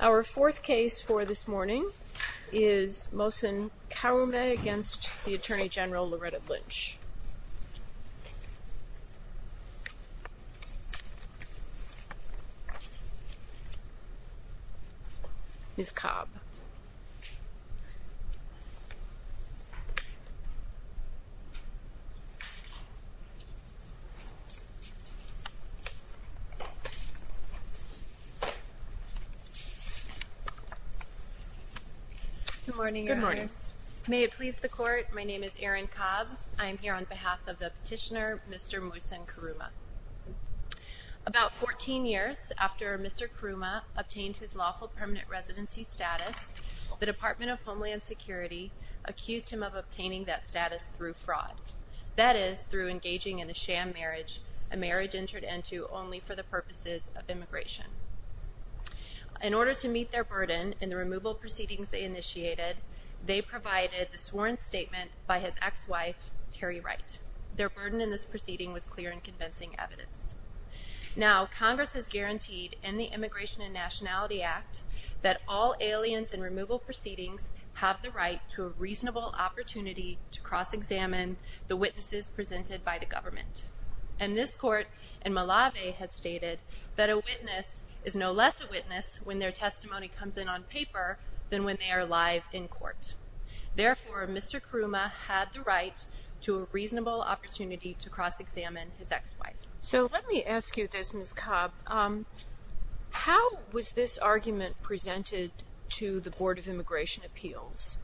Our fourth case for this morning is Mossen Karroumeh v. Attorney General Loretta Lynch Good morning Your Honor. May it please the court, my name is Erin Cobb. I am here on behalf of the petitioner Mr. Mossen Karroumeh. About 14 years after Mr. Karroumeh obtained his lawful permanent residency status, the Department of Homeland Security accused him of obtaining that status through fraud. That is, through engaging in a sham marriage, a marriage entered into only for the purposes of immigration. In order to meet their burden in the removal proceedings they initiated, they provided the sworn statement by his ex-wife, Terry Wright. Their burden in this proceeding was clear and convincing evidence. Now, Congress has guaranteed in the Immigration and Nationality Act that all aliens in removal proceedings have the right to a reasonable opportunity to cross-examine the witnesses presented by the government. And this court in Malave has stated that a witness is no less a witness when their testimony comes in on paper than when they are live in court. Therefore, Mr. Karroumeh had the right to a reasonable opportunity to cross-examine his ex-wife. So let me ask you this Ms. Cobb, how was this argument presented to the Board of Immigration Appeals?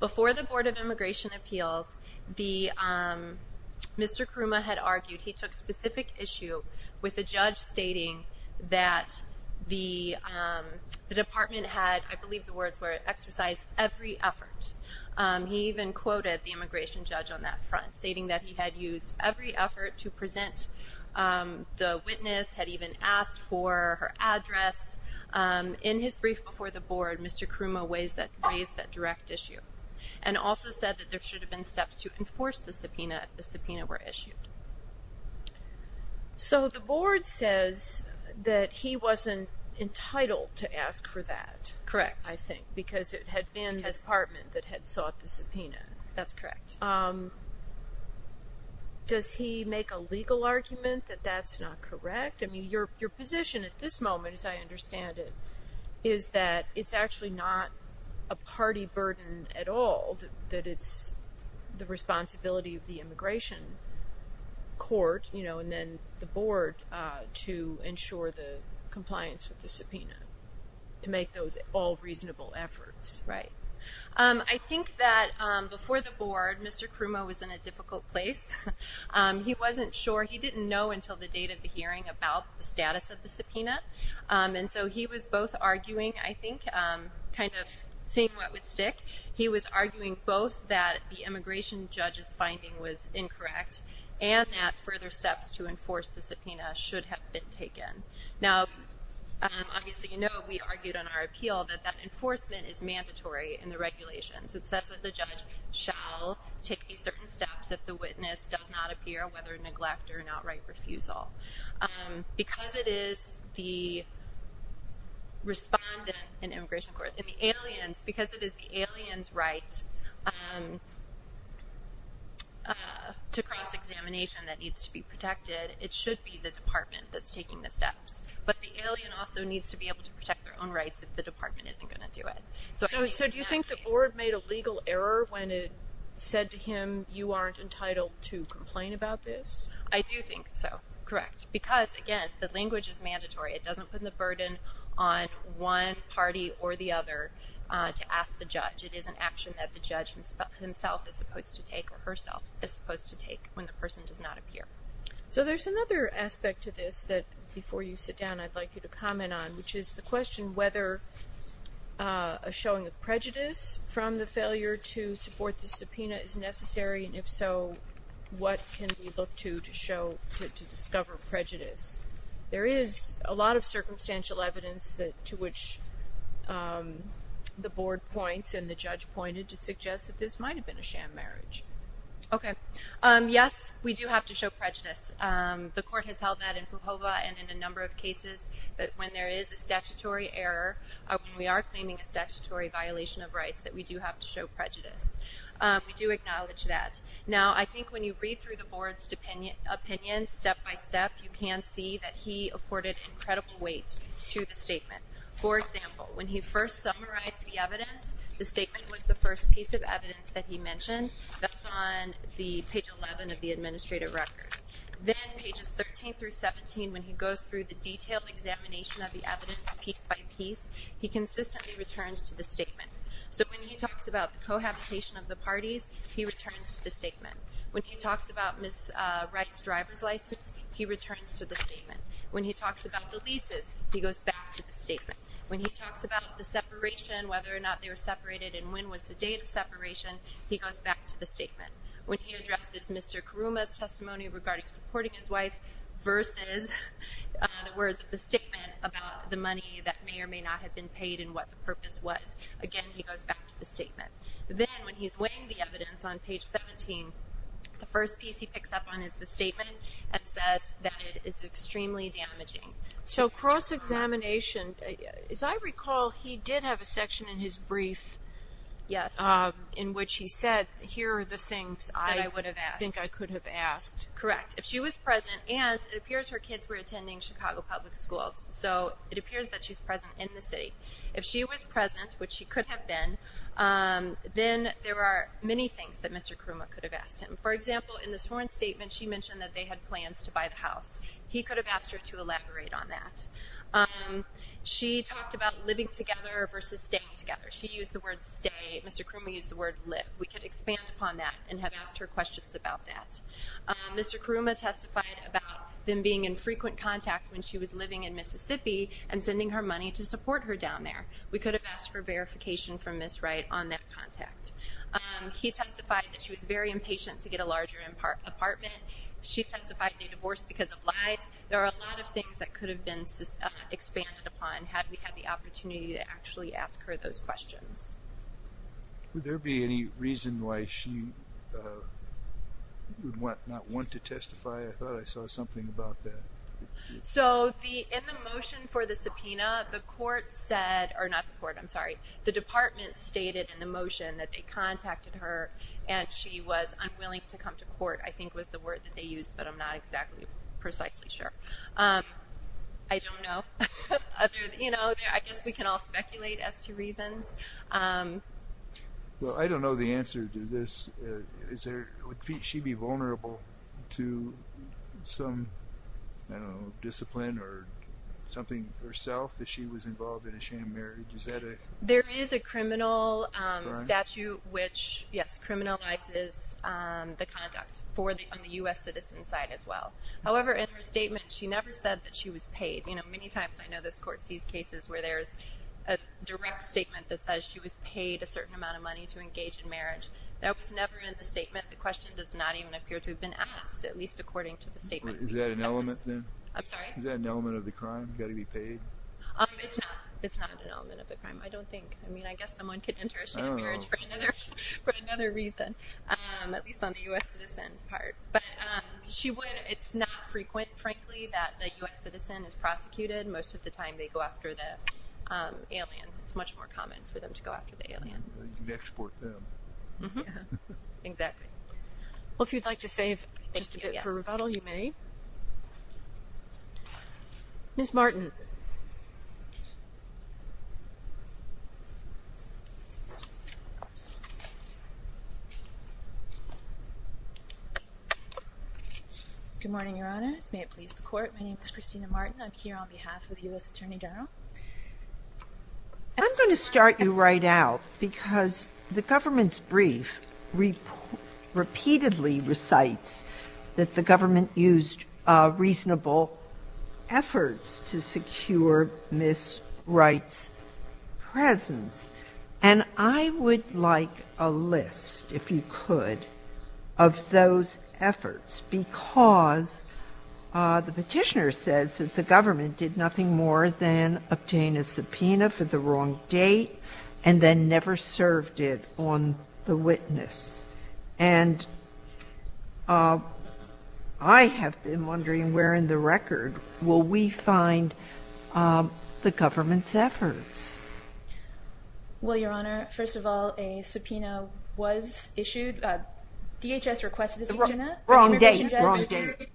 Before the Board of Immigration Appeals, Mr. Karroumeh had argued, he took specific issue with a judge stating that the department had, I believe the words were, exercised every effort. He even quoted the immigration judge on that front, stating that he had used every effort to present the witness, had even asked for her address. In his brief before the Board, Mr. Karroumeh raised that direct issue and also said that there should have been steps to enforce the subpoena if the subpoena were issued. So the Board says that he wasn't entitled to ask for that. Correct. I think, because it had been the department that had sought the subpoena. That's correct. Does he make a legal argument that that's not correct? I mean, your position at this moment, as I understand it, is that it's actually not a party burden at all. That it's the responsibility of the immigration court, you know, and then the Board to ensure the compliance with the subpoena. To make those all reasonable efforts. Right. I think that before the Board, Mr. Karroumeh was in a difficult place. He wasn't sure. He didn't know until the date of the hearing about the status of the subpoena. And so he was both arguing, I think, kind of seeing what would stick. He was arguing both that the immigration judge's finding was incorrect and that further steps to enforce the subpoena should have been taken. Now, obviously, you know, we argued on our appeal that that enforcement is mandatory in the regulations. It says that the judge shall take these certain steps if the witness does not appear, whether neglect or an outright refusal. Because it is the respondent in the immigration court, in the aliens, because it is the aliens' right to cross-examination that needs to be protected, it should be the department that's taking the steps. But the alien also needs to be able to protect their own rights if the department isn't going to do it. So do you think the Board made a legal error when it said to him, you aren't entitled to complain about this? I do think so. Correct. Because, again, the language is mandatory. It doesn't put the burden on one party or the other to ask the judge. It is an action that the judge himself is supposed to take or herself is supposed to take when the person does not appear. So there's another aspect to this that, before you sit down, I'd like you to comment on, which is the question whether a showing of prejudice from the failure to support the subpoena is necessary, and if so, what can we look to to show, to discover prejudice? There is a lot of circumstantial evidence to which the Board points and the judge pointed to suggest that this might have been a sham marriage. Okay. Yes, we do have to show prejudice. The Court has held that in Pujova and in a number of cases that when there is a statutory error, when we are claiming a statutory violation of rights, that we do have to show prejudice. We do acknowledge that. Now, I think when you read through the Board's opinions step by step, you can see that he accorded incredible weight to the statement. For example, when he first summarized the evidence, the statement was the first piece of evidence that he mentioned. That's on page 11 of the administrative record. Then pages 13 through 17, when he goes through the detailed examination of the evidence piece by piece, he consistently returns to the statement. So when he talks about the cohabitation of the parties, he returns to the statement. When he talks about Ms. Wright's driver's license, he returns to the statement. When he talks about the leases, he goes back to the statement. When he talks about the separation, whether or not they were separated and when was the date of separation, he goes back to the statement. When he addresses Mr. Karuma's testimony regarding supporting his wife versus the words of the statement about the money that may or may not have been paid and what the purpose was, again, he goes back to the statement. Then when he's weighing the evidence on page 17, the first piece he picks up on is the statement and says that it is extremely damaging. So cross-examination. As I recall, he did have a section in his brief in which he said, here are the things I think I could have asked. Correct. If she was present, and it appears her kids were attending Chicago Public Schools, so it appears that she's present in the city. If she was present, which she could have been, then there are many things that Mr. Karuma could have asked him. For example, in the sworn statement, she mentioned that they had plans to buy the house. He could have asked her to elaborate on that. She talked about living together versus staying together. She used the word stay. Mr. Karuma used the word live. We could expand upon that and have asked her questions about that. Mr. Karuma testified about them being in frequent contact when she was living in Mississippi and sending her money to support her down there. We could have asked for verification from Ms. Wright on that contact. He testified that she was very impatient to get a larger apartment. She testified they divorced because of lies. There are a lot of things that could have been expanded upon had we had the opportunity to actually ask her those questions. Would there be any reason why she would not want to testify? I thought I saw something about that. So in the motion for the subpoena, the court said, or not the court, I'm sorry, the department stated in the motion that they contacted her and she was unwilling to come to court, I think was the word that they used, but I'm not exactly precisely sure. I don't know. I guess we can all speculate as to reasons. I don't know the answer to this. Would she be vulnerable to some discipline or something herself if she was involved in a sham marriage? There is a criminal statute which, yes, criminalizes the conduct on the U.S. citizen side as well. However, in her statement she never said that she was paid. You know, many times I know this court sees cases where there is a direct statement that says she was paid a certain amount of money to engage in marriage. That was never in the statement. The question does not even appear to have been asked, at least according to the statement. Is that an element then? I'm sorry? Is that an element of the crime, got to be paid? It's not an element of the crime, I don't think. I mean, I guess someone could enter a sham marriage for another reason, at least on the U.S. citizen part. But it's not frequent, frankly, that the U.S. citizen is prosecuted. Most of the time they go after the alien. It's much more common for them to go after the alien. You'd export them. Exactly. Well, if you'd like to save just a bit for rebuttal, you may. Ms. Martin. Good morning, Your Honors. May it please the Court, my name is Christina Martin. I'm here on behalf of U.S. Attorney General. I'm going to start you right out because the government's brief repeatedly recites that the government used reasonable efforts to secure Ms. Wright's presence. And I would like a list, if you could, of those efforts because the Petitioner says that the government did nothing more than obtain a subpoena for the wrong date and then never served it on the witness. And I have been wondering where in the record will we find the government's efforts? Well, Your Honor, first of all, a subpoena was issued. DHS requested a subpoena. Wrong date. Wrong date.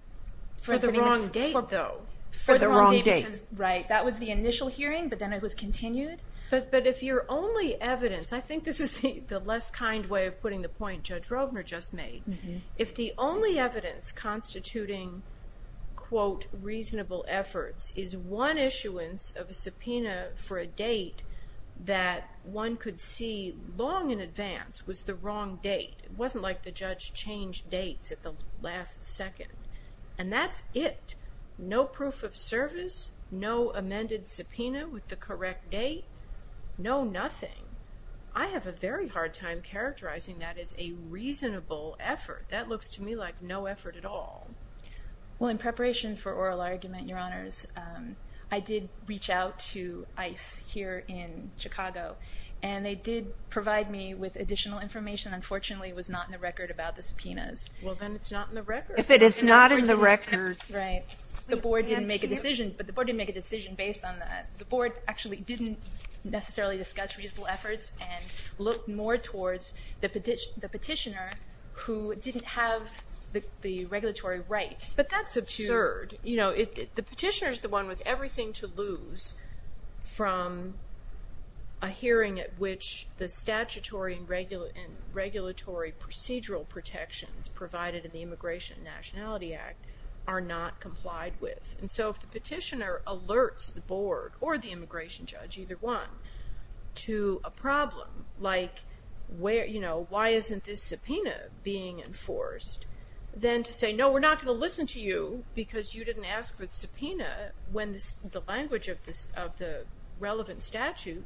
For the wrong date, though. For the wrong date. Right. That was the initial hearing, but then it was continued. But if your only evidence, I think this is the less kind way of putting the point Judge Rovner just made, if the only evidence constituting, quote, reasonable efforts is one issuance of a subpoena for a date that one could see long in advance was the wrong date, it wasn't like the judge changed dates at the last second, and that's it. No proof of service. No amended subpoena with the correct date. No nothing. I have a very hard time characterizing that as a reasonable effort. That looks to me like no effort at all. Well, in preparation for oral argument, Your Honors, I did reach out to ICE here in Chicago, and they did provide me with additional information. Unfortunately, it was not in the record about the subpoenas. Well, then it's not in the record. If it is not in the record. Right. The board didn't make a decision, but the board didn't make a decision based on that. The board actually didn't necessarily discuss reasonable efforts and look more towards the petitioner who didn't have the regulatory right. But that's absurd. The petitioner is the one with everything to lose from a hearing at which the statutory and regulatory procedural protections provided in the Immigration and Nationality Act are not complied with. And so if the petitioner alerts the board or the immigration judge, either one, to a problem like why isn't this subpoena being enforced, then to say, no, we're not going to listen to you because you didn't ask for the subpoena when the language of the relevant statute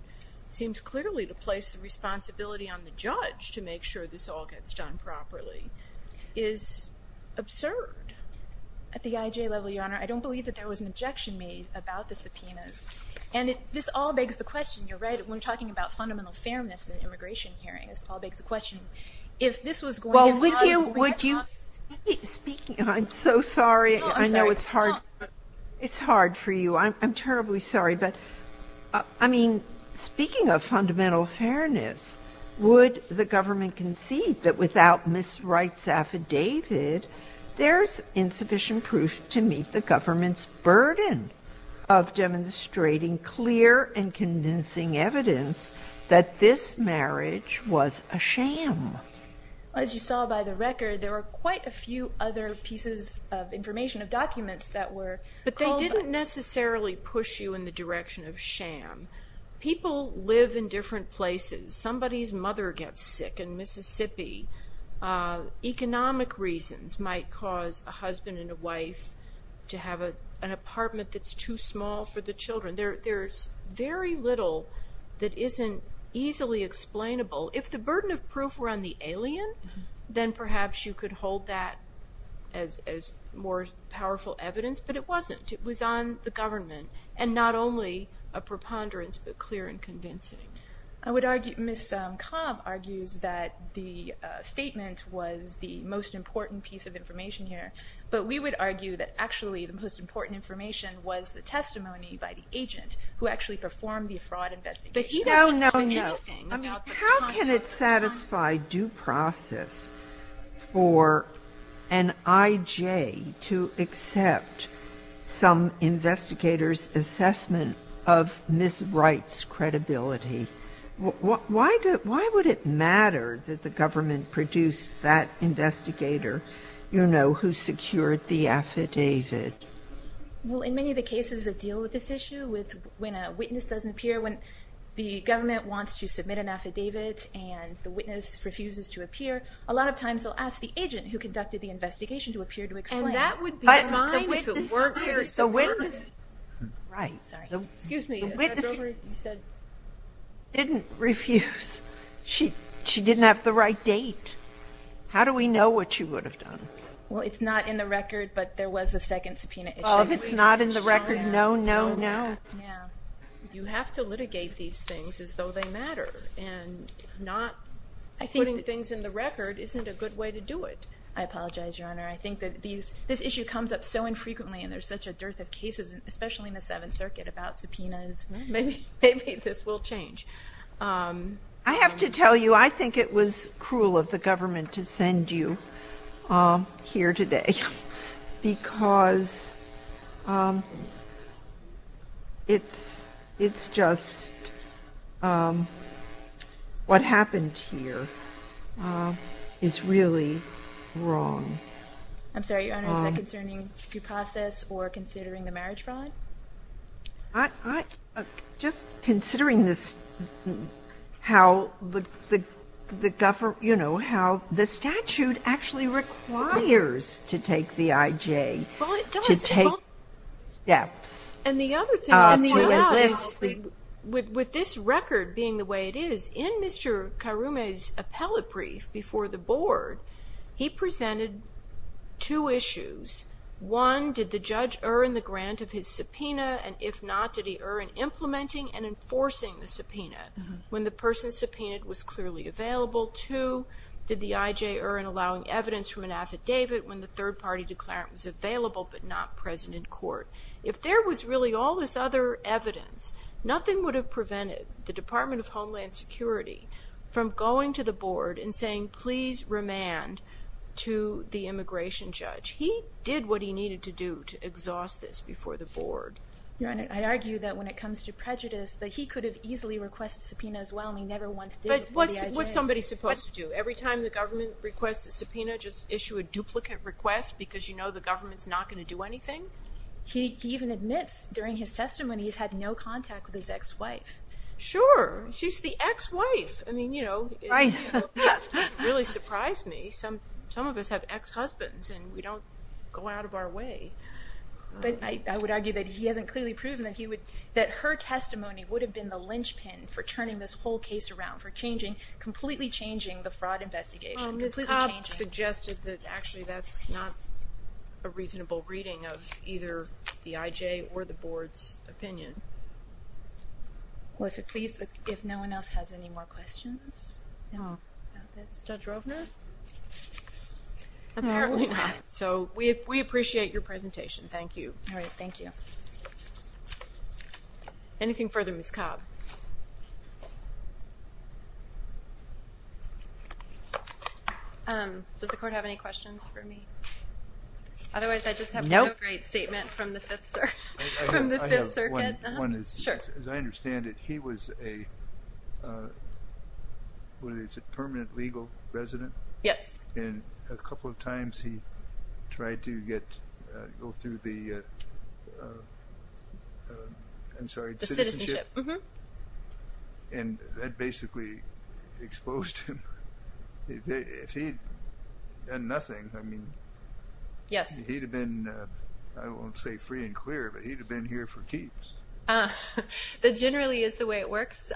seems clearly to place the responsibility on the judge to make sure this all gets done properly is absurd. At the IJ level, Your Honor, I don't believe that there was an objection made about the subpoenas. And this all begs the question, you're right, when we're talking about fundamental fairness in an immigration hearing, this all begs the question, if this was going to be enforced, would that not be speaking of, I'm so sorry. No, I'm sorry. It's hard for you. I'm terribly sorry. But, I mean, speaking of fundamental fairness, would the government concede that without Ms. Wright's affidavit, there's insufficient proof to meet the government's burden of demonstrating clear and convincing evidence that this marriage was a sham? As you saw by the record, there were quite a few other pieces of information of documents that were But they didn't necessarily push you in the direction of sham. People live in different places. Somebody's mother gets sick in Mississippi. Economic reasons might cause a husband and a wife to have an apartment that's too small for the children. There's very little that isn't easily explainable. If the burden of proof were on the alien, then perhaps you could hold that as more powerful evidence. But it wasn't. It was on the government, and not only a preponderance, but clear and convincing. Ms. Cobb argues that the statement was the most important piece of information here, but we would argue that actually the most important information was the testimony by the agent who actually performed the fraud investigation. No, no, no. How can it satisfy due process for an IJ to accept some investigator's assessment of Ms. Wright's credibility? Why would it matter that the government produced that investigator, you know, who secured the affidavit? Well, in many of the cases that deal with this issue, with when a witness doesn't appear, when the government wants to submit an affidavit and the witness refuses to appear, a lot of times they'll ask the agent who conducted the investigation to appear to explain. And that would be fine if it weren't for the security. Right. Excuse me. The witness didn't refuse. She didn't have the right date. How do we know what she would have done? Well, it's not in the record, but there was a second subpoena issue. Oh, if it's not in the record, no, no, no. Yeah. You have to litigate these things as though they matter. And not putting things in the record isn't a good way to do it. I apologize, Your Honor. I think that this issue comes up so infrequently, and there's such a dearth of cases, especially in the Seventh Circuit, about subpoenas. Maybe this will change. I have to tell you, I think it was cruel of the government to send you here today, because it's just what happened here is really wrong. I'm sorry, Your Honor. Is that concerning due process or considering the marriage fraud? Just considering how the statute actually requires to take the IJ, to take steps. And the other thing, with this record being the way it is, in Mr. Karume's appellate brief before the board, he presented two issues. One, did the judge err in the grant of his subpoena, and if not, did he err in implementing and enforcing the subpoena when the person subpoenaed was clearly available? Two, did the IJ err in allowing evidence from an affidavit when the third party declarant was available but not present in court? If there was really all this other evidence, nothing would have prevented the Department of Homeland Security from going to the board and saying, please remand to the immigration judge. He did what he needed to do to exhaust this before the board. Your Honor, I argue that when it comes to prejudice, that he could have easily requested subpoena as well, and he never once did. But what's somebody supposed to do? Every time the government requests a subpoena, just issue a duplicate request because you know the government's not going to do anything? He even admits during his testimony he's had no contact with his ex-wife. Sure. She's the ex-wife. I mean, you know, it doesn't really surprise me. Some of us have ex-husbands and we don't go out of our way. But I would argue that he hasn't clearly proven that her testimony would have been the linchpin for turning this whole case around, for completely changing the fraud investigation. Ms. Cobb suggested that actually that's not a reasonable reading of either the IJ or the board's opinion. Well, if no one else has any more questions. Judge Rovner? Apparently not. So we appreciate your presentation. Thank you. All right, thank you. Anything further, Ms. Cobb? Does the Court have any questions for me? Otherwise, I just have one great statement from the Fifth Circuit. One is, as I understand it, he was a permanent legal resident. Yes. And a couple of times he tried to go through the citizenship. The citizenship, mm-hmm. And that basically exposed him. If he had done nothing, I mean, he'd have been, I won't say free and clear, but he'd have been here for keeps. That generally is the way it works.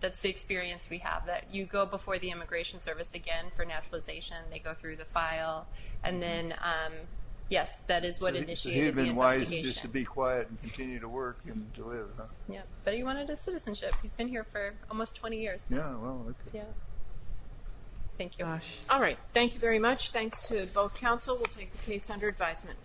That's the experience we have, that you go before the Immigration Service again for naturalization, they go through the file, and then, yes, that is what initiated the investigation. So he'd have been wise just to be quiet and continue to work and to live, huh? Yeah, but he wanted a citizenship. He's been here for almost 20 years. Yeah, well, okay. Yeah. Thank you. All right, thank you very much. Thanks to both counsel. We'll take the case under advisement.